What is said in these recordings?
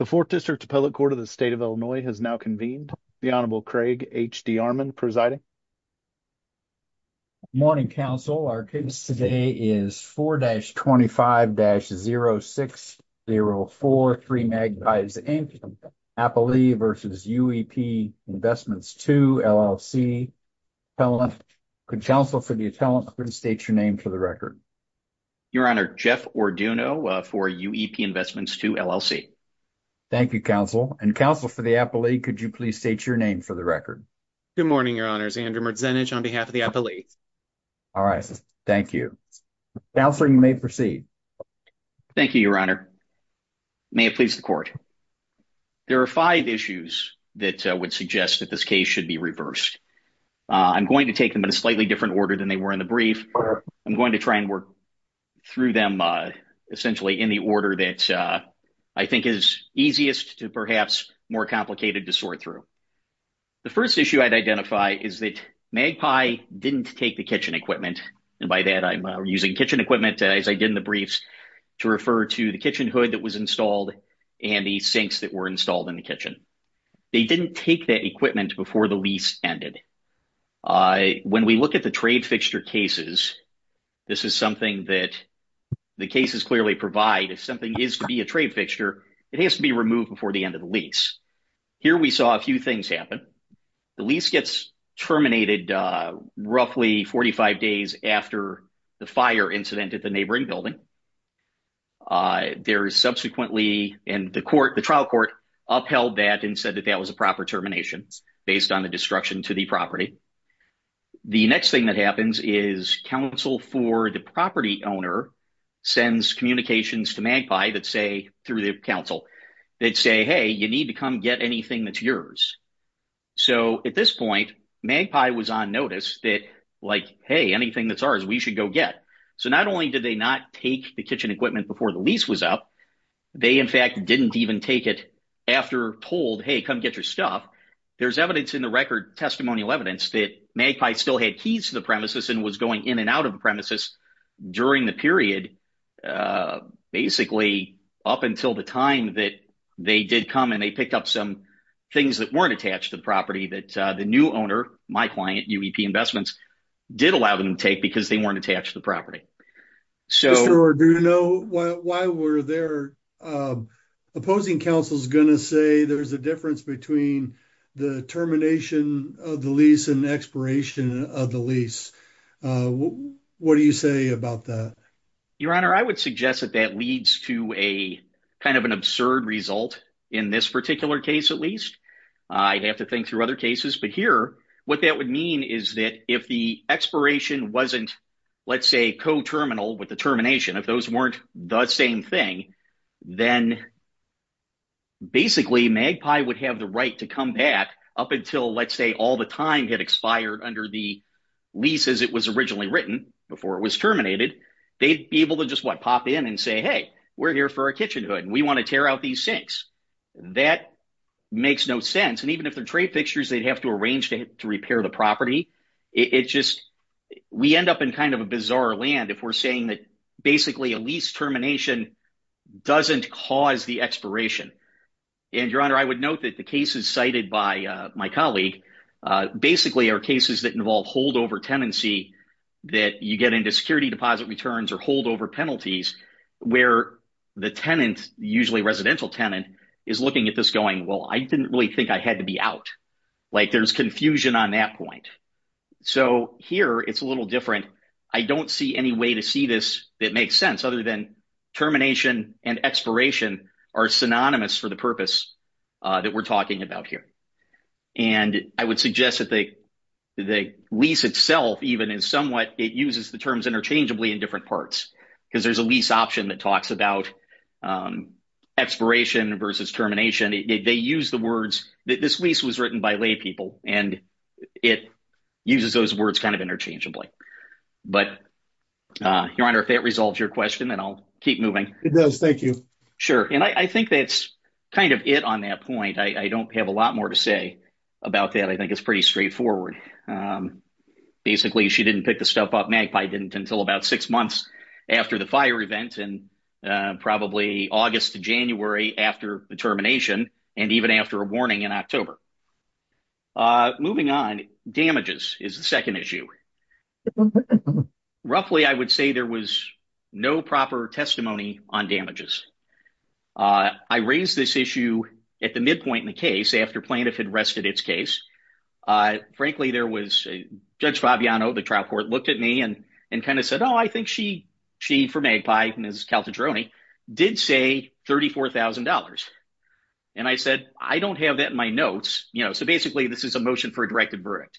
The 4th District Appellate Court of the State of Illinois has now convened. The Honorable Craig H. D. Armon presiding. Good morning, counsel. Our case today is 4-25-0604, 3 Magpies, Inc., Appalee v. UEP Investments 2, LLC. Counsel for the attendant, please state your name for the record. Your Honor, Jeff Orduno for UEP Investments 2, LLC. Thank you, counsel. And counsel for the appellee, could you please state your name for the record. Good morning, Your Honor. Andrew Merzenich on behalf of the appellee. All right. Thank you. Counselor, you may proceed. Thank you, Your Honor. May it please the Court. There are five issues that would suggest that this case should be reversed. I'm going to take them in a slightly different order than they were in the brief. I'm going to try and work through them essentially in the order that I think is easiest to perhaps more complicated to sort through. The first issue I'd identify is that Magpie didn't take the kitchen equipment. And by that, I'm using kitchen equipment, as I did in the briefs, to refer to the kitchen hood that was installed and the sinks that were installed in the kitchen. They didn't take that equipment before the lease ended. When we look at the trade fixture cases, this is something that the cases clearly provide. If something is to be a trade fixture, it has to be removed before the end of the lease. Here we saw a few things happen. The lease gets terminated roughly 45 days after the fire incident at the neighboring building. The trial court upheld that and said that that was a proper termination based on the destruction to the property. The next thing that happens is counsel for the property owner sends communications to Magpie through the counsel. They'd say, hey, you need to come get anything that's yours. So at this point, Magpie was on notice that like, hey, anything that's ours, we should go get. So not only did they not take the kitchen equipment before the lease was up, they, in fact, didn't even take it after told, hey, come get your stuff. There's evidence in the record, testimonial evidence, that Magpie still had keys to the premises and was going in and out of the premises during the period. Basically, up until the time that they did come and they picked up some things that weren't attached to the property that the new owner, my client, UEP Investments, did allow them to take because they weren't attached to the property. So do you know why we're there? Opposing counsel is going to say there's a difference between the termination of the lease and expiration of the lease. What do you say about that? Your Honor, I would suggest that that leads to a kind of an absurd result in this particular case. At least I'd have to think through other cases. But here, what that would mean is that if the expiration wasn't, let's say, co-terminal with the termination, if those weren't the same thing, then basically Magpie would have the right to come back up until, let's say, all the time had expired under the lease as it was originally written before it was terminated. They'd be able to just, what, pop in and say, hey, we're here for our kitchen hood and we want to tear out these sinks. That makes no sense. And even if they're trade fixtures, they'd have to arrange to repair the property. It's just we end up in kind of a bizarre land if we're saying that basically a lease termination doesn't cause the expiration. And, Your Honor, I would note that the cases cited by my colleague basically are cases that involve holdover tenancy that you get into security deposit returns or holdover penalties where the tenant, usually residential tenant, is looking at this going, well, I didn't really think I had to be out. Like, there's confusion on that point. So here it's a little different. I don't see any way to see this that makes sense other than termination and expiration are synonymous for the purpose that we're talking about here. And I would suggest that the lease itself even is somewhat, it uses the terms interchangeably in different parts because there's a lease option that talks about expiration versus termination. They use the words, this lease was written by laypeople, and it uses those words kind of interchangeably. But, Your Honor, if that resolves your question, then I'll keep moving. It does. Thank you. Sure. And I think that's kind of it on that point. I don't have a lot more to say about that. I think it's pretty straightforward. Basically, she didn't pick the stuff up. Magpie didn't until about six months after the fire event and probably August to January after the termination and even after a warning in October. Moving on, damages is the second issue. Roughly, I would say there was no proper testimony on damages. I raised this issue at the midpoint in the case after plaintiff had rested its case. Frankly, there was Judge Fabiano, the trial court, looked at me and kind of said, oh, I think she, for Magpie, Ms. Calatroni, did say $34,000. And I said, I don't have that in my notes. So, basically, this is a motion for a directed verdict.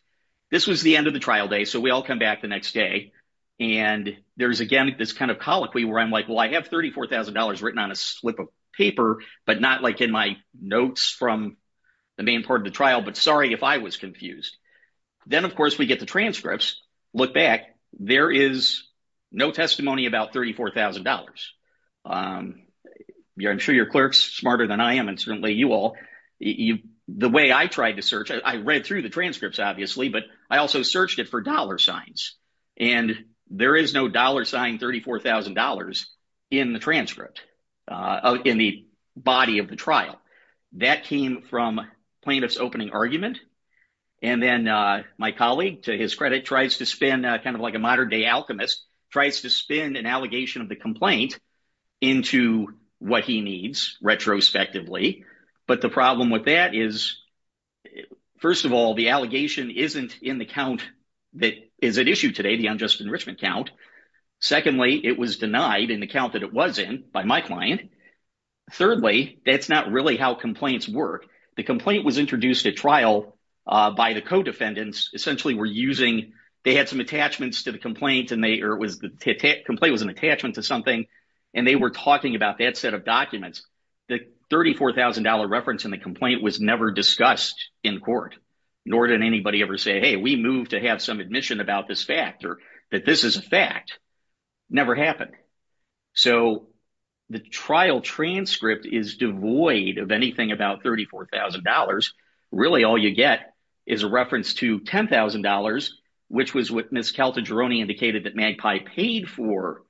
This was the end of the trial day. So we all come back the next day, and there's, again, this kind of colloquy where I'm like, well, I have $34,000 written on a slip of paper, but not like in my notes from the main part of the trial, but sorry if I was confused. Then, of course, we get the transcripts, look back. There is no testimony about $34,000. I'm sure your clerk's smarter than I am and certainly you all. The way I tried to search, I read through the transcripts, obviously, but I also searched it for dollar signs, and there is no dollar sign $34,000 in the transcript, in the body of the trial. That came from plaintiff's opening argument, and then my colleague, to his credit, tries to spin kind of like a modern-day alchemist, tries to spin an allegation of the complaint into what he needs retrospectively. But the problem with that is, first of all, the allegation isn't in the count that is at issue today, the unjust enrichment count. Secondly, it was denied in the count that it was in by my client. Thirdly, that's not really how complaints work. The complaint was introduced at trial by the co-defendants. Essentially, they had some attachments to the complaint, or the complaint was an attachment to something, and they were talking about that set of documents. The $34,000 reference in the complaint was never discussed in court, nor did anybody ever say, hey, we move to have some admission about this fact or that this is a fact. Never happened. So the trial transcript is devoid of anything about $34,000. Really, all you get is a reference to $10,000, which was what Ms. Caltagirone indicated that Magpie paid for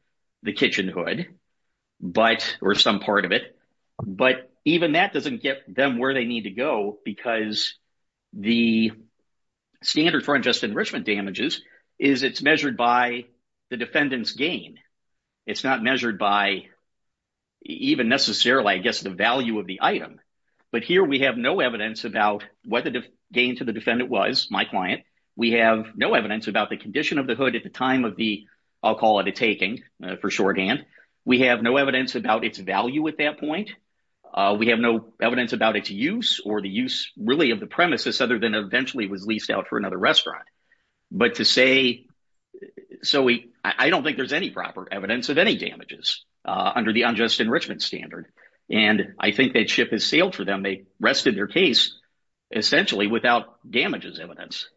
the kitchen hood or some part of it. But even that doesn't get them where they need to go because the standard for unjust enrichment damages is it's measured by the defendant's gain. It's not measured by even necessarily, I guess, the value of the item. But here we have no evidence about what the gain to the defendant was, my client. We have no evidence about the condition of the hood at the time of the, I'll call it a taking for shorthand. We have no evidence about its value at that point. We have no evidence about its use or the use really of the premises other than eventually was leased out for another restaurant. But to say, so I don't think there's any proper evidence of any damages under the unjust enrichment standard. And I think that ship has sailed for them. They rested their case essentially without damages evidence.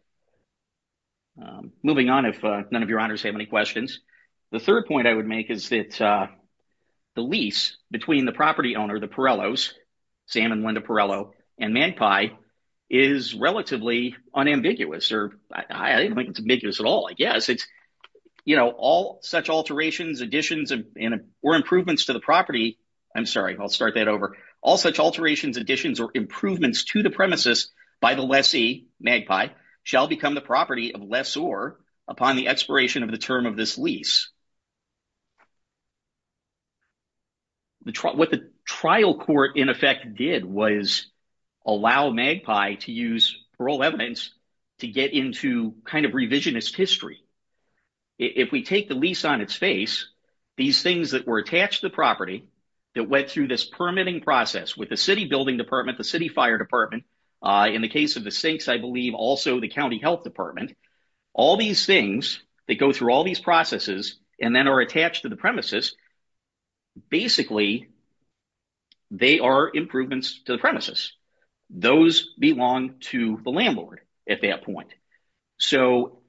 Moving on, if none of your honors have any questions. The third point I would make is that the lease between the property owner, the Pirellos, Sam and Linda Pirello, and Magpie is relatively unambiguous. I don't think it's ambiguous at all, I guess. All such alterations, additions or improvements to the property. I'm sorry, I'll start that over. All such alterations, additions or improvements to the premises by the lessee, Magpie, shall become the property of lessor upon the expiration of the term of this lease. What the trial court in effect did was allow Magpie to use parole evidence to get into kind of revisionist history. If we take the lease on its face, these things that were attached to the property that went through this permitting process with the city building department, the city fire department. In the case of the sinks, I believe also the county health department. All these things that go through all these processes and then are attached to the premises. Basically, they are improvements to the premises. Those belong to the landlord at that point. So,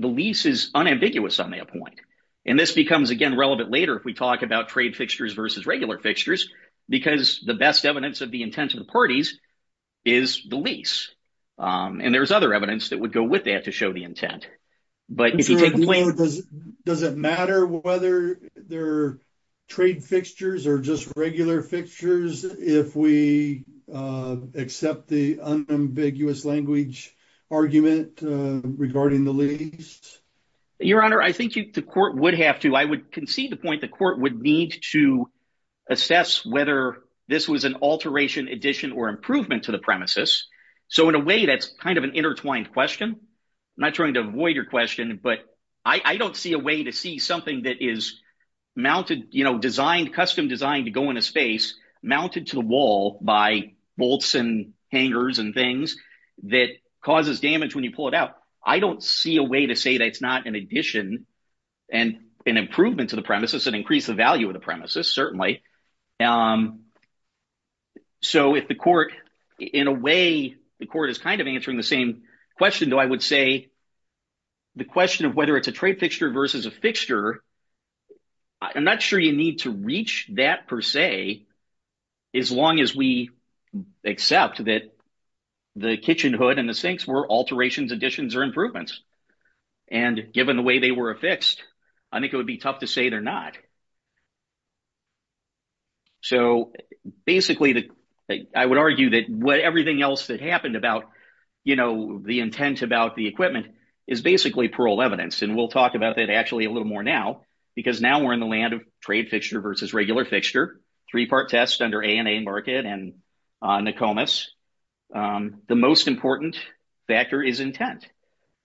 the lease is unambiguous on that point. And this becomes again relevant later if we talk about trade fixtures versus regular fixtures. Because the best evidence of the intent of the parties is the lease. And there's other evidence that would go with that to show the intent. Does it matter whether they're trade fixtures or just regular fixtures if we accept the unambiguous language argument regarding the lease? Your Honor, I think the court would have to. So, I would concede the point the court would need to assess whether this was an alteration, addition, or improvement to the premises. So, in a way, that's kind of an intertwined question. I'm not trying to avoid your question, but I don't see a way to see something that is mounted, you know, designed, custom designed to go into space, mounted to the wall by bolts and hangers and things that causes damage when you pull it out. I don't see a way to say that it's not an addition and an improvement to the premises and increase the value of the premises, certainly. So, if the court, in a way, the court is kind of answering the same question, though, I would say the question of whether it's a trade fixture versus a fixture. I'm not sure you need to reach that, per se, as long as we accept that the kitchen hood and the sinks were alterations, additions, or improvements. And given the way they were affixed, I think it would be tough to say they're not. So, basically, I would argue that everything else that happened about, you know, the intent about the equipment is basically parole evidence. And we'll talk about that, actually, a little more now because now we're in the land of trade fixture versus regular fixture, three-part test under ANA market and NACOMAS. The most important factor is intent.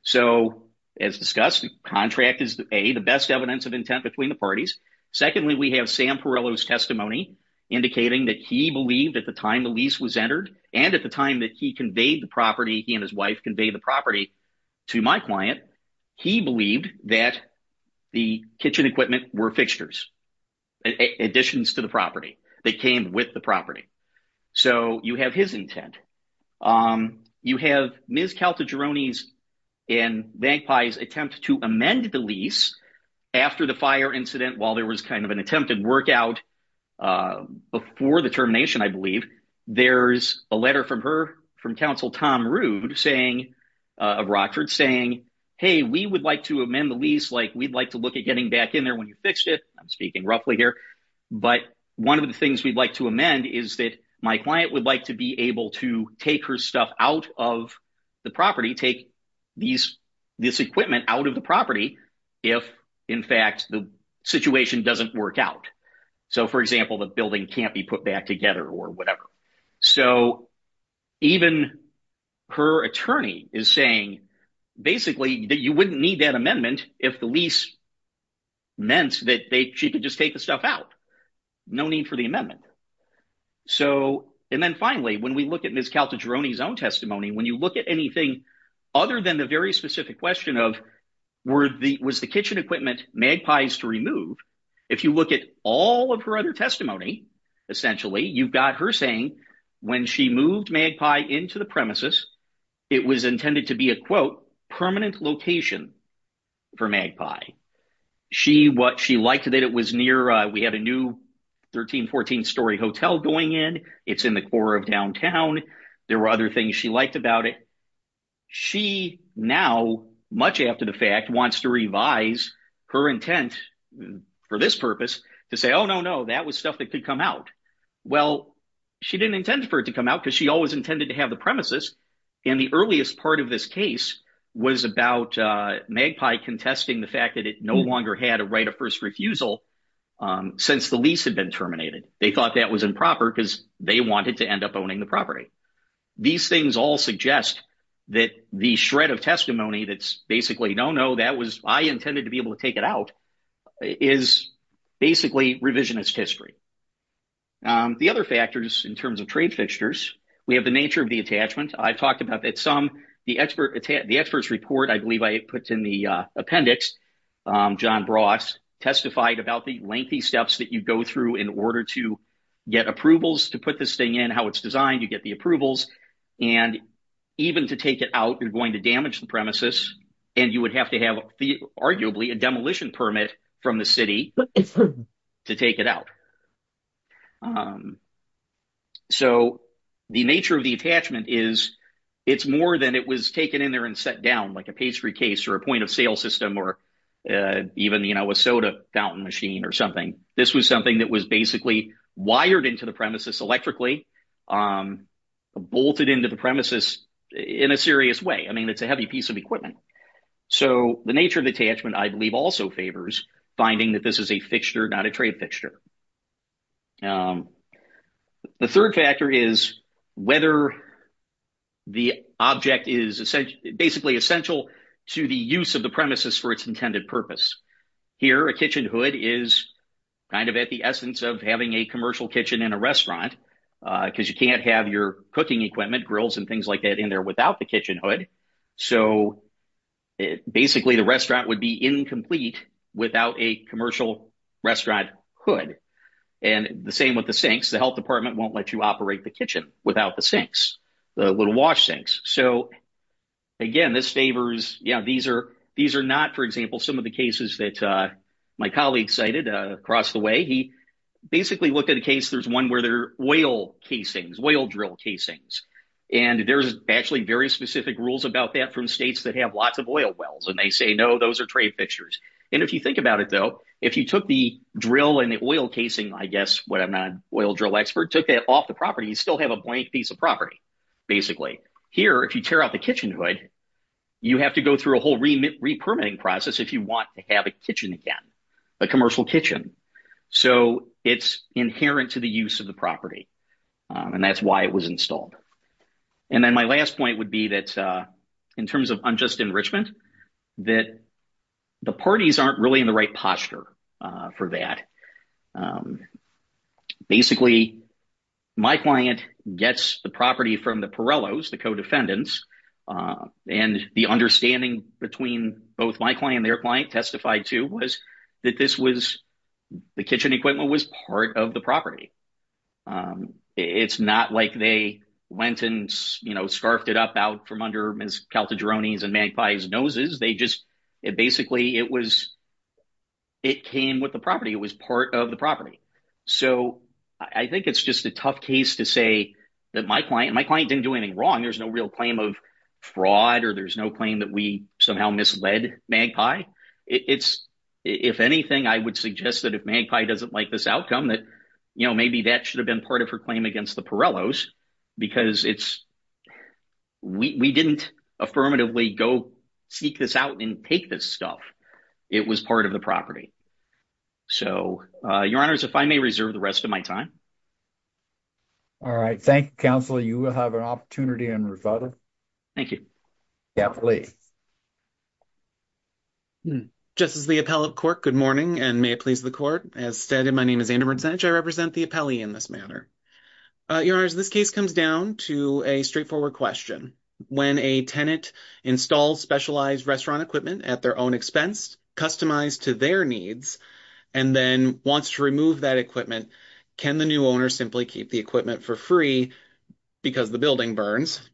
So, as discussed, contract is, A, the best evidence of intent between the parties. Secondly, we have Sam Perrello's testimony indicating that he believed at the time the lease was entered and at the time that he conveyed the property, he and his wife conveyed the property to my client, he believed that the kitchen equipment were fixtures, additions to the property that came with the property. So, you have his intent. You have Ms. Caltagirone's and Bankpai's attempt to amend the lease after the fire incident while there was kind of an attempted workout before the termination, I believe. There's a letter from her, from Council Tom Rood of Rockford, saying, hey, we would like to amend the lease. Like, we'd like to look at getting back in there when you fixed it. I'm speaking roughly here. But one of the things we'd like to amend is that my client would like to be able to take her stuff out of the property, take this equipment out of the property if, in fact, the situation doesn't work out. So, for example, the building can't be put back together or whatever. So, even her attorney is saying basically that you wouldn't need that amendment if the lease meant that she could just take the stuff out. No need for the amendment. So, and then finally, when we look at Ms. Caltagirone's own testimony, when you look at anything other than the very specific question of was the kitchen equipment Magpies to remove, if you look at all of her other testimony, essentially, you've got her saying when she moved Magpie into the premises, it was intended to be a, quote, permanent location for Magpie. She liked that it was near, we had a new 13, 14 story hotel going in. It's in the core of downtown. There were other things she liked about it. She now, much after the fact, wants to revise her intent for this purpose to say, oh, no, no, that was stuff that could come out. Well, she didn't intend for it to come out because she always intended to have the premises. And the earliest part of this case was about Magpie contesting the fact that it no longer had a right of first refusal since the lease had been terminated. They thought that was improper because they wanted to end up owning the property. These things all suggest that the shred of testimony that's basically no, no, that was I intended to be able to take it out is basically revisionist history. The other factors in terms of trade fixtures, we have the nature of the attachment. The experts report, I believe I put in the appendix, John Bross testified about the lengthy steps that you go through in order to get approvals to put this thing in, how it's designed, you get the approvals. And even to take it out, you're going to damage the premises. And you would have to have arguably a demolition permit from the city to take it out. So the nature of the attachment is it's more than it was taken in there and set down like a pastry case or a point of sale system or even, you know, a soda fountain machine or something. This was something that was basically wired into the premises electrically, bolted into the premises in a serious way. I mean, it's a heavy piece of equipment. So the nature of the attachment, I believe, also favors finding that this is a fixture, not a trade fixture. The third factor is whether the object is essentially, basically essential to the use of the premises for its intended purpose. Here, a kitchen hood is kind of at the essence of having a commercial kitchen in a restaurant because you can't have your cooking equipment, grills and things like that in there without the kitchen hood. So basically, the restaurant would be incomplete without a commercial restaurant hood. And the same with the sinks. The health department won't let you operate the kitchen without the sinks, the little wash sinks. So, again, this favors, you know, these are not, for example, some of the cases that my colleague cited across the way. He basically looked at a case. There's one where there are whale casings, whale drill casings. And there's actually very specific rules about that from states that have lots of oil wells. And they say, no, those are trade fixtures. And if you think about it, though, if you took the drill and the oil casing, I guess, when I'm not an oil drill expert, took that off the property, you still have a blank piece of property, basically. Here, if you tear out the kitchen hood, you have to go through a whole re-permitting process if you want to have a kitchen again, a commercial kitchen. So, it's inherent to the use of the property. And that's why it was installed. And then my last point would be that in terms of unjust enrichment, that the parties aren't really in the right posture for that. Basically, my client gets the property from the Pirellos, the co-defendants. And the understanding between both my client and their client testified to was that this was – the kitchen equipment was part of the property. It's not like they went and scarfed it up out from under Ms. Caltagirone's and Magpie's noses. They just – basically, it was – it came with the property. It was part of the property. So, I think it's just a tough case to say that my client – my client didn't do anything wrong. There's no real claim of fraud or there's no claim that we somehow misled Magpie. It's – if anything, I would suggest that if Magpie doesn't like this outcome, that maybe that should have been part of her claim against the Pirellos because it's – we didn't affirmatively go seek this out and take this stuff. It was part of the property. So, your honors, if I may reserve the rest of my time. All right. Thank you, counsel. You will have an opportunity in rebuttal. Thank you. Yeah, please. Just as the appellate court, good morning and may it please the court. As stated, my name is Anderberg Zenich. I represent the appellee in this matter. Your honors, this case comes down to a straightforward question. When a tenant installs specialized restaurant equipment at their own expense, customized to their needs, and then wants to remove that equipment, can the new owner simply keep the equipment for free because the building burns?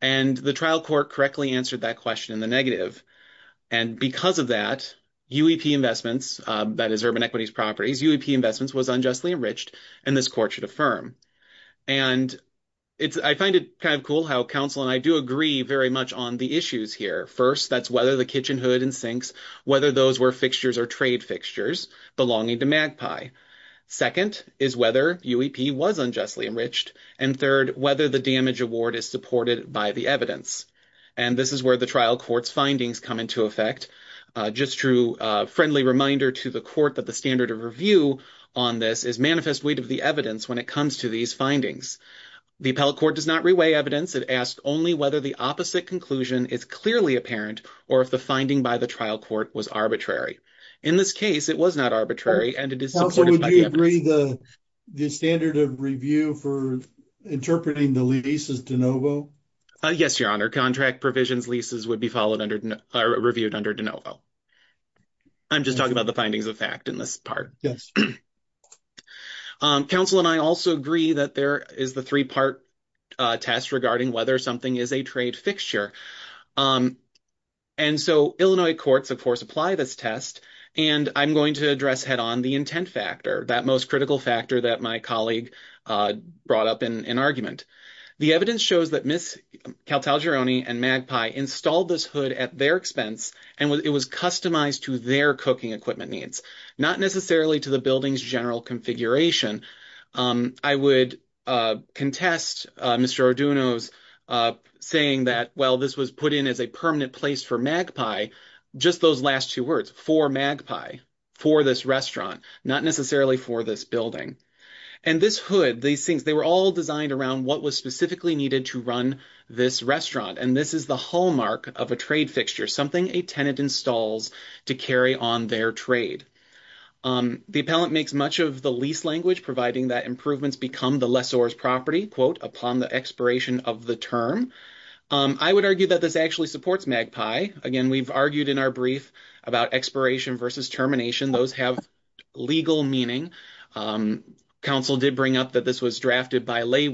And the trial court correctly answered that question in the negative. And because of that, UEP Investments, that is Urban Equities Properties, UEP Investments was unjustly enriched and this court should affirm. And I find it kind of cool how counsel and I do agree very much on the issues here. First, that's whether the kitchen hood and sinks, whether those were fixtures or trade fixtures belonging to Magpie. Second is whether UEP was unjustly enriched. And third, whether the damage award is supported by the evidence. And this is where the trial court's findings come into effect. Just a friendly reminder to the court that the standard of review on this is manifest weight of the evidence when it comes to these findings. The appellate court does not reweigh evidence. It asks only whether the opposite conclusion is clearly apparent or if the finding by the trial court was arbitrary. In this case, it was not arbitrary and it is supported by the evidence. Counsel, would you agree the standard of review for interpreting the lease is de novo? Yes, Your Honor. Contract provisions leases would be followed under or reviewed under de novo. I'm just talking about the findings of fact in this part. Yes. Counsel and I also agree that there is the three part test regarding whether something is a trade fixture. And so Illinois courts, of course, apply this test. And I'm going to address head on the intent factor, that most critical factor that my colleague brought up in an argument. The evidence shows that Miss Caltagirone and Magpie installed this hood at their expense. And it was customized to their cooking equipment needs, not necessarily to the building's general configuration. I would contest Mr. Arduino's saying that, well, this was put in as a permanent place for Magpie. Just those last two words for Magpie, for this restaurant, not necessarily for this building. And this hood, these things, they were all designed around what was specifically needed to run this restaurant. And this is the hallmark of a trade fixture, something a tenant installs to carry on their trade. The appellant makes much of the lease language, providing that improvements become the lessor's property, quote, upon the expiration of the term. I would argue that this actually supports Magpie. Again, we've argued in our brief about expiration versus termination. Those have legal meaning. Counsel did bring up that this was drafted by lay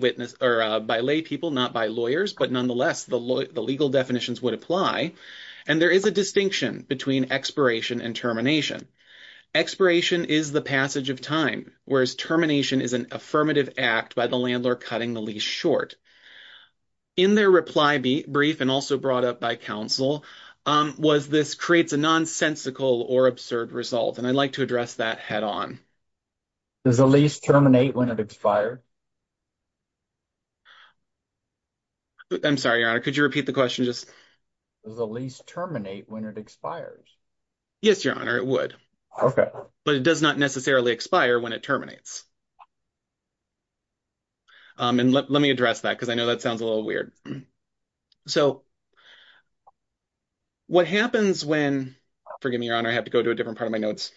people, not by lawyers. But nonetheless, the legal definitions would apply. And there is a distinction between expiration and termination. Expiration is the passage of time, whereas termination is an affirmative act by the landlord cutting the lease short. In their reply brief, and also brought up by counsel, was this creates a nonsensical or absurd result. And I'd like to address that head on. Does the lease terminate when it expires? I'm sorry, Your Honor. Could you repeat the question? Does the lease terminate when it expires? Yes, Your Honor, it would. Okay. But it does not necessarily expire when it terminates. And let me address that because I know that sounds a little weird. So what happens when, forgive me, Your Honor, I have to go to a different part of my notes.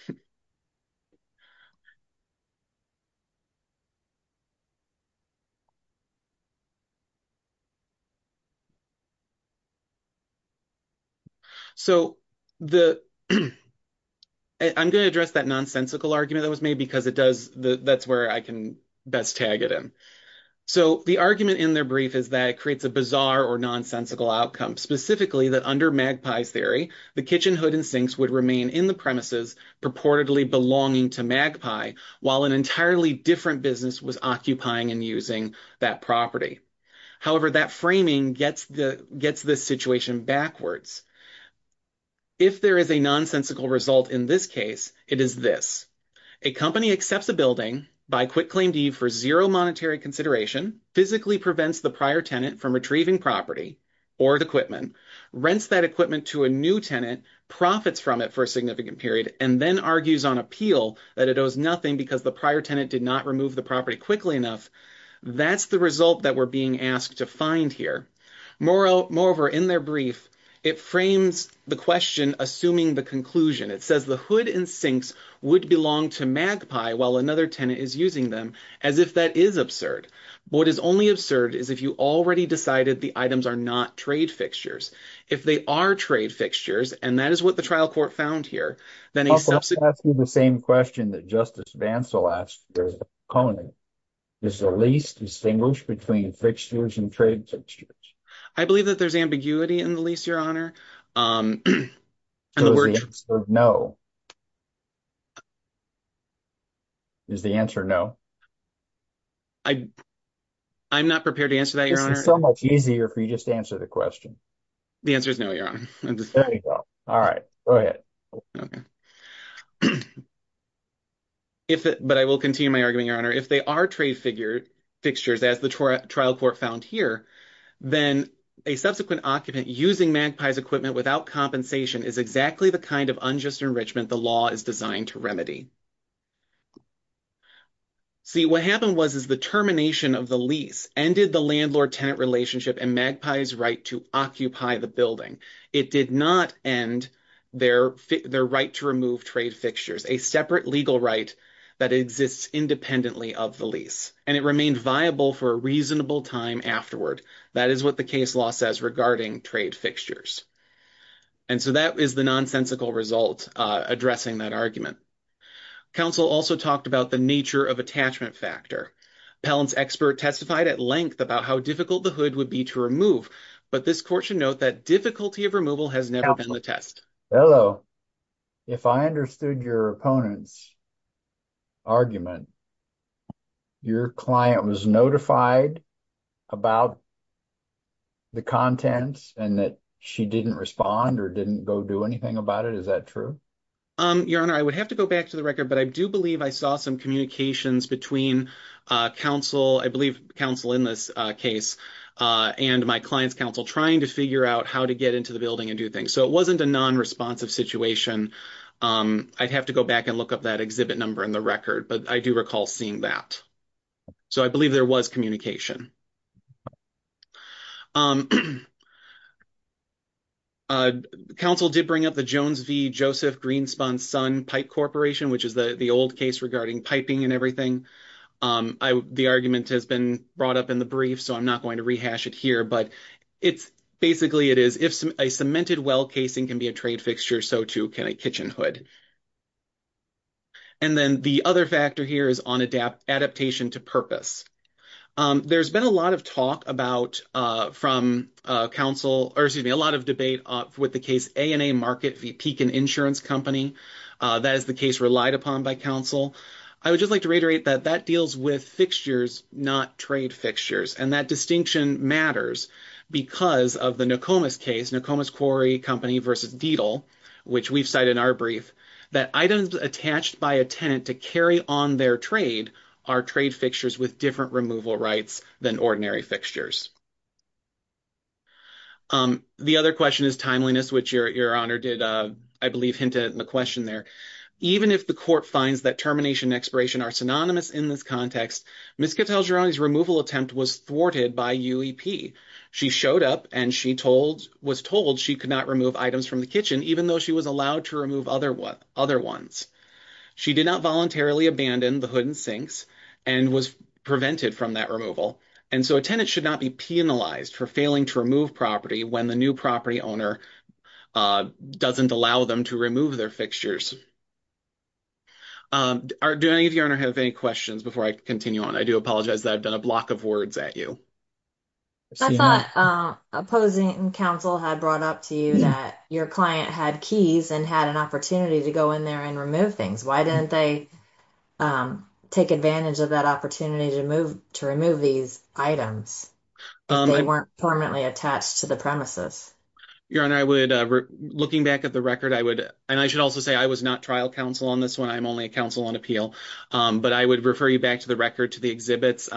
So I'm going to address that nonsensical argument that was made because that's where I can best tag it in. So the argument in their brief is that it creates a bizarre or nonsensical outcome, specifically that under magpie's theory, the kitchen hood and sinks would remain in the premises, purportedly belonging to magpie, while an entirely different business was occupying and using that property. However, that framing gets this situation backwards. If there is a nonsensical result in this case, it is this. A company accepts a building by quick claim leave for zero monetary consideration, physically prevents the prior tenant from retrieving property or equipment, rents that equipment to a new tenant, profits from it for a significant period, and then argues on appeal that it owes nothing because the prior tenant did not remove the property quickly enough. That's the result that we're being asked to find here. Moreover, in their brief, it frames the question assuming the conclusion. It says the hood and sinks would belong to magpie, while another tenant is using them, as if that is absurd. What is only absurd is if you already decided the items are not trade fixtures. If they are trade fixtures, and that is what the trial court found here, then a subsequent... I was going to ask you the same question that Justice Vance will ask you, Conan. Is the lease distinguished between fixtures and trade fixtures? I believe that there's ambiguity in the lease, Your Honor. So is the answer no? Is the answer no? I'm not prepared to answer that, Your Honor. This is so much easier if you just answer the question. The answer is no, Your Honor. There you go. All right. Go ahead. But I will continue my argument, Your Honor. If they are trade fixtures, as the trial court found here, then a subsequent occupant using magpie's equipment without compensation is exactly the kind of unjust enrichment the law is designed to remedy. See, what happened was the termination of the lease ended the landlord-tenant relationship and magpie's right to occupy the building. It did not end their right to remove trade fixtures, a separate legal right that exists independently of the lease. And it remained viable for a reasonable time afterward. That is what the case law says regarding trade fixtures. And so that is the nonsensical result addressing that argument. Counsel also talked about the nature of attachment factor. Pellant's expert testified at length about how difficult the hood would be to remove, but this court should note that difficulty of removal has never been the test. Hello. If I understood your opponent's argument, your client was notified about the contents and that she didn't respond or didn't go do anything about it. Is that true? Your Honor, I would have to go back to the record, but I do believe I saw some communications between counsel, I believe counsel in this case, and my client's counsel trying to figure out how to get into the building and do things. So it wasn't a non-responsive situation. I'd have to go back and look up that exhibit number in the record, but I do recall seeing that. So I believe there was communication. Counsel did bring up the Jones v. Joseph Greenspun Sun Pipe Corporation, which is the old case regarding piping and everything. The argument has been brought up in the brief, so I'm not going to rehash it here, but basically it is if a cemented well casing can be a trade fixture, so too can a kitchen hood. And then the other factor here is on adaptation to purpose. There's been a lot of talk about from counsel, or excuse me, a lot of debate with the case A&A Market v. Pekin Insurance Company. That is the case relied upon by counsel. I would just like to reiterate that that deals with fixtures, not trade fixtures, and that distinction matters because of the Nokomis case, Nokomis Quarry Company v. Deedle, which we've cited in our brief, that items attached by a tenant to carry on their trade are trade fixtures with different removal rights than ordinary fixtures. The other question is timeliness, which your Honor did, I believe, hint at in the question there. Even if the court finds that termination and expiration are synonymous in this context, Ms. Catalgeroni's removal attempt was thwarted by UEP. She showed up and she was told she could not remove items from the kitchen, even though she was allowed to remove other ones. She did not voluntarily abandon the hood and sinks and was prevented from that removal, and so a tenant should not be penalized for failing to remove property when the new property owner doesn't allow them to remove their fixtures. Do any of you, Your Honor, have any questions before I continue on? I do apologize that I've done a block of words at you. I thought opposing counsel had brought up to you that your client had keys and had an opportunity to go in there and remove things. Why didn't they take advantage of that opportunity to remove these items if they weren't permanently attached to the premises? Your Honor, looking back at the record, and I should also say I was not trial counsel on this one. I'm only a counsel on appeal. But I would refer you back to the record to the exhibits.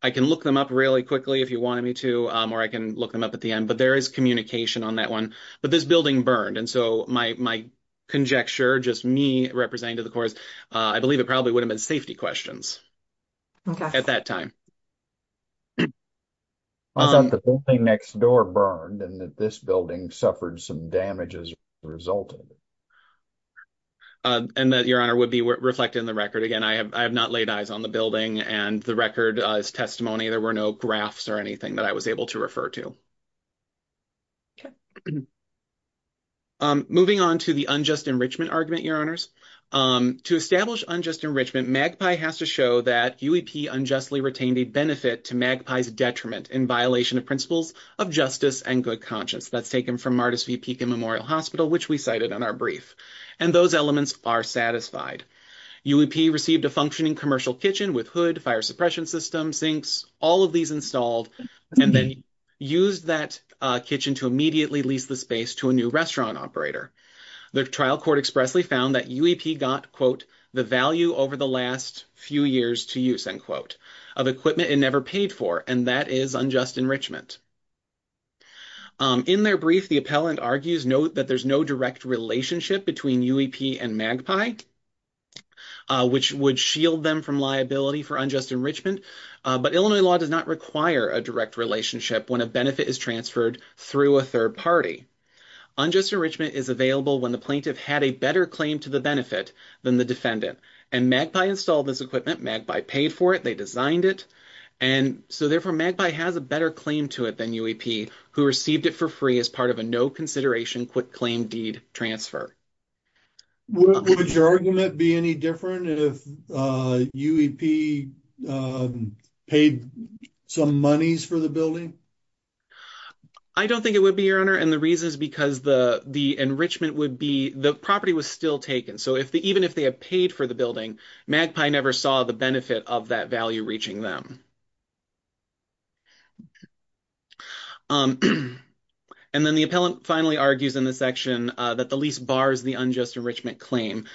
I can look them up really quickly if you wanted me to, or I can look them up at the end, but there is communication on that one. But this building burned, and so my conjecture, just me representing to the courts, I believe it probably would have been safety questions at that time. I thought the building next door burned and that this building suffered some damage as a result. And that, Your Honor, would be reflected in the record. Again, I have not laid eyes on the building, and the record is testimony. There were no graphs or anything that I was able to refer to. Okay. Moving on to the unjust enrichment argument, Your Honors. To establish unjust enrichment, MAGPIE has to show that UEP unjustly retained a benefit to MAGPIE's detriment in violation of principles of justice and good conscience. That's taken from Martus v. Pekin Memorial Hospital, which we cited in our brief. And those elements are satisfied. UEP received a functioning commercial kitchen with hood, fire suppression system, sinks, all of these installed, and then used that kitchen to immediately lease the space to a new restaurant operator. The trial court expressly found that UEP got, quote, the value over the last few years to use, end quote, of equipment it never paid for, and that is unjust enrichment. In their brief, the appellant argues, note that there's no direct relationship between UEP and MAGPIE, which would shield them from liability for unjust enrichment. But Illinois law does not require a direct relationship when a benefit is transferred through a third party. Unjust enrichment is available when the plaintiff had a better claim to the benefit than the defendant. And MAGPIE installed this equipment. MAGPIE paid for it. They designed it. And so, therefore, MAGPIE has a better claim to it than UEP, who received it for free as part of a no consideration quick claim deed transfer. Would your argument be any different if UEP paid some monies for the building? I don't think it would be, Your Honor. And the reason is because the enrichment would be the property was still taken. So even if they had paid for the building, MAGPIE never saw the benefit of that value reaching them. And then the appellant finally argues in the section that the lease bars the unjust enrichment claim.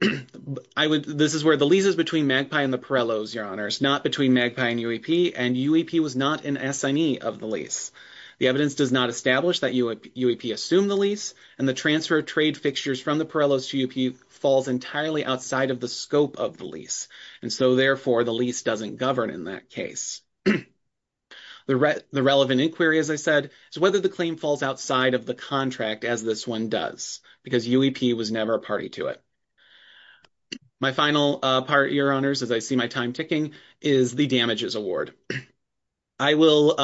This is where the lease is between MAGPIE and the Pirellos, Your Honors, not between MAGPIE and UEP, and UEP was not an assignee of the lease. The evidence does not establish that UEP assumed the lease, and the transfer of trade fixtures from the Pirellos to UEP falls entirely outside of the scope of the lease. And so, therefore, the lease doesn't govern in that case. The relevant inquiry, as I said, is whether the claim falls outside of the contract as this one does, because UEP was never a party to it. My final part, Your Honors, as I see my time ticking, is the damages award. I will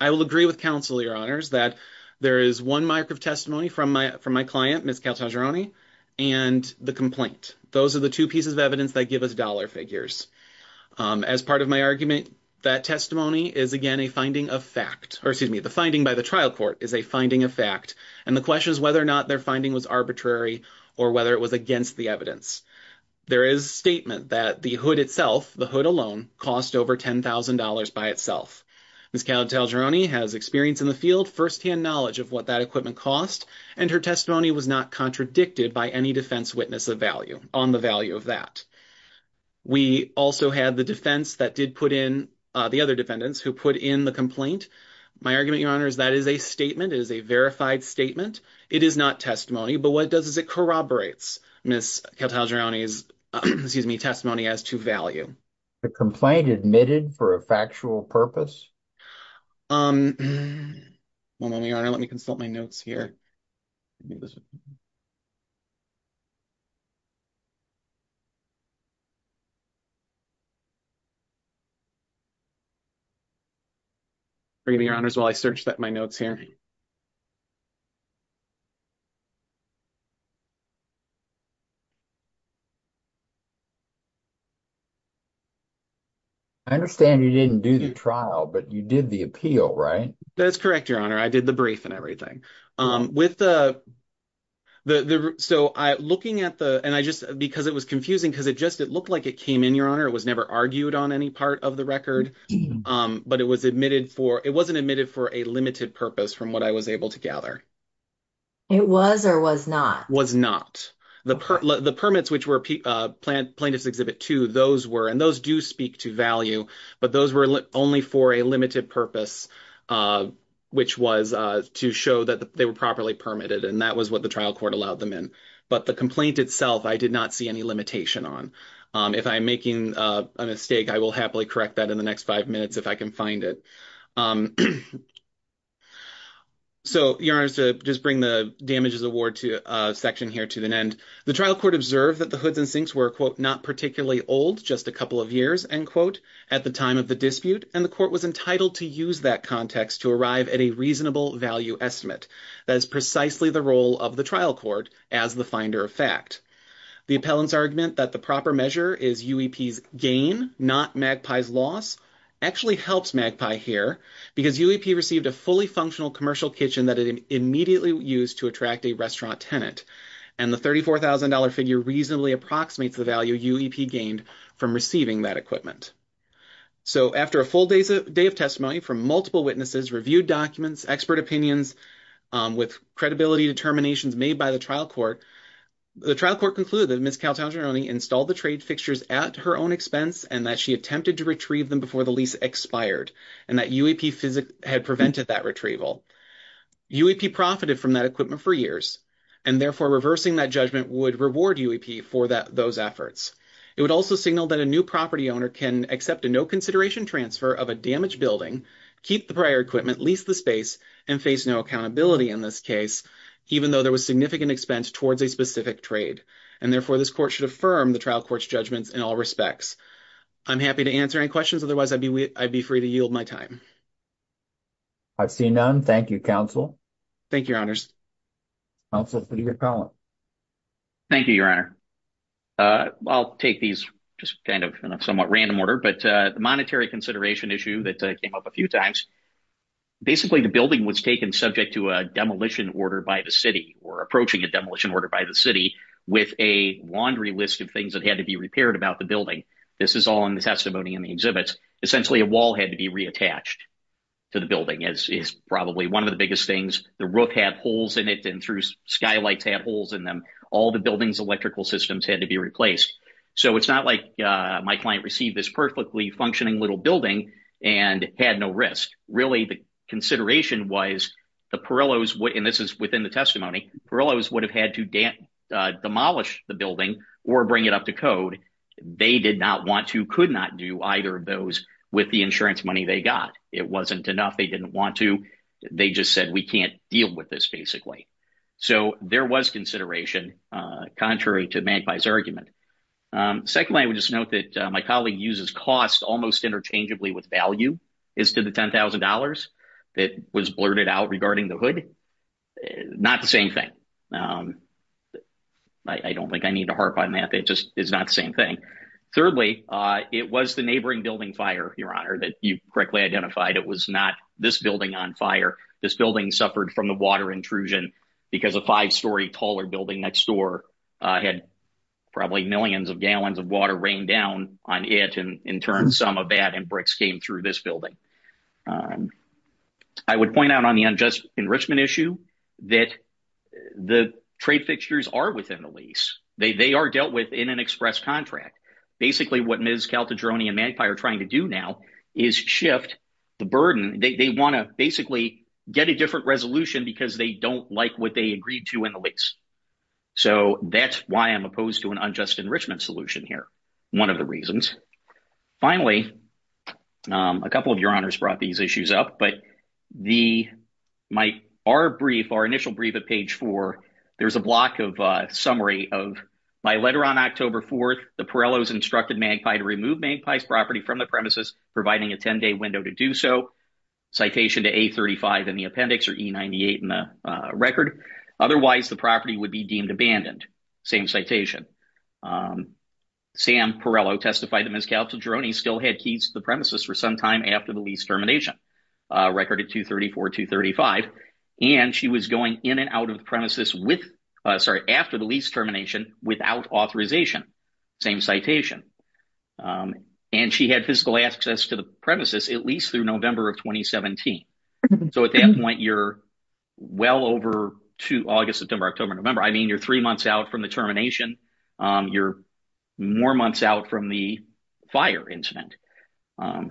agree with counsel, Your Honors, that there is one mark of testimony from my client, Ms. Caltagirone, and the complaint. Those are the two pieces of evidence that give us dollar figures. As part of my argument, that testimony is, again, a finding of fact, or excuse me, the finding by the trial court is a finding of fact, and the question is whether or not their finding was arbitrary or whether it was against the evidence. There is statement that the hood itself, the hood alone, cost over $10,000 by itself. Ms. Caltagirone has experience in the field, firsthand knowledge of what that equipment cost, and her testimony was not contradicted by any defense witness of value, on the value of that. We also had the defense that did put in the other defendants who put in the complaint. My argument, Your Honors, that is a statement. It is a verified statement. It is not testimony, but what it does is it corroborates Ms. Caltagirone's testimony as to value. Was the complaint admitted for a factual purpose? Well, Your Honor, let me consult my notes here. Let me listen. Forgive me, Your Honors, while I search my notes here. I understand you didn't do the trial, but you did the appeal, right? That is correct, Your Honor. I did the brief and everything. Because it was confusing, because it looked like it came in, Your Honor. It was never argued on any part of the record, but it wasn't admitted for a limited purpose from what I was able to gather. It was or was not? It was not. The permits, which were Plaintiff's Exhibit 2, and those do speak to value, but those were only for a limited purpose, which was to show that they were properly permitted, and that was what the trial court allowed them in. But the complaint itself, I did not see any limitation on. If I'm making a mistake, I will happily correct that in the next five minutes if I can find it. So, Your Honors, to just bring the damages award section here to an end, the trial court observed that the hoods and sinks were, quote, not particularly old, just a couple of years, end quote, at the time of the dispute, and the court was entitled to use that context to arrive at a reasonable value estimate. That is precisely the role of the trial court as the finder of fact. The appellant's argument that the proper measure is UEP's gain, not MAGPIE's loss, actually helps MAGPIE here, because UEP received a fully functional commercial kitchen that it immediately used to attract a restaurant tenant, and the $34,000 figure reasonably approximates the value of using that equipment. So, after a full day of testimony from multiple witnesses, reviewed documents, expert opinions, with credibility determinations made by the trial court, the trial court concluded that Ms. Caltageroni installed the trade fixtures at her own expense and that she attempted to retrieve them before the lease expired, and that UEP had prevented that retrieval. UEP profited from that equipment for years, and therefore, reversing that judgment would reward UEP for those efforts. It would also signal that a new property owner can accept a no-consideration transfer of a damaged building, keep the prior equipment, lease the space, and face no accountability in this case, even though there was significant expense towards a specific trade, and therefore, this court should affirm the trial court's judgments in all respects. I'm happy to answer any questions. Otherwise, I'd be free to yield my time. I've seen none. Thank you, counsel. Thank you, Your Honors. Counsel, I think you're calling. Thank you, Your Honor. I'll take these just kind of in a somewhat random order, but the monetary consideration issue that came up a few times, basically, the building was taken subject to a demolition order by the city or approaching a demolition order by the city with a laundry list of things that had to be repaired about the building. This is all in the testimony in the exhibits. Essentially, a wall had to be reattached to the building, as is probably one of the biggest things. The roof had holes in it, and through skylights, had holes in them. All the building's electrical systems had to be replaced. So it's not like my client received this perfectly functioning little building and had no risk. Really, the consideration was the Perillos, and this is within the testimony, Perillos would have had to demolish the building or bring it up to code. They did not want to, could not do either of those with the insurance money they got. It wasn't enough. They didn't want to. They just said, we can't deal with this, basically. So there was consideration, contrary to Magpie's argument. Secondly, I would just note that my colleague uses cost almost interchangeably with value as to the $10,000 that was blurted out regarding the hood. Not the same thing. I don't think I need to harp on that. It just is not the same thing. Thirdly, it was the neighboring building fire, Your Honor, that you correctly identified. It was not this building on fire. This building suffered from the water intrusion because a five-story taller building next door had probably millions of gallons of water rain down on it and in turn some of that and bricks came through this building. I would point out on the unjust enrichment issue that the trade fixtures are within the lease. They are dealt with in an express contract. Basically, what Ms. Caltadrone and Magpie are trying to do now is shift the burden. They want to basically get a different resolution because they don't like what they agreed to in the lease. So that's why I'm opposed to an unjust enrichment solution here. One of the reasons. Finally, a couple of Your Honors brought these issues up, but our initial brief at page four, there's a block of summary of my letter on October 4th, the Pirellos instructed Magpie to remove Magpie's property from the premises, providing a 10-day window to do so. Citation to A35 in the appendix or E98 in the record. Otherwise, the property would be deemed abandoned. Same citation. Sam Pirello testified that Ms. Caltadrone still had keys to the premises for some time after the lease termination. Record at 234, 235. And she was going in and out of the premises with, sorry, after the lease termination without authorization. Same citation. And she had physical access to the premises, at least through November of 2017. So at that point, you're well over August, September, October, November. I mean, you're three months out from the termination. You're more months out from the fire incident. And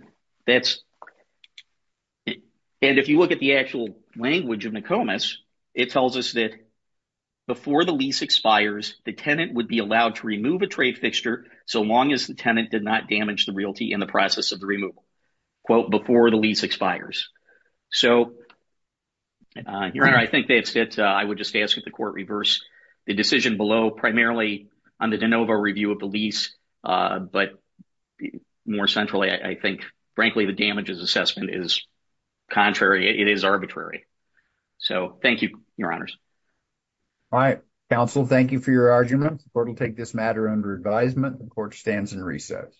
if you look at the actual language of Nokomis, it tells us that before the lease expires, the tenant would be allowed to remove a trade fixture so long as the tenant did not damage the realty in the process of the removal, quote, before the lease expires. So, Your Honor, I think that's it. I would just ask that the court reverse the decision below, primarily on the de novo review of the lease. But more centrally, I think, frankly, the damages assessment is contrary. It is arbitrary. So thank you, Your Honors. All right. Counsel, thank you for your argument. The court will take this matter under advisement. The court stands in recess.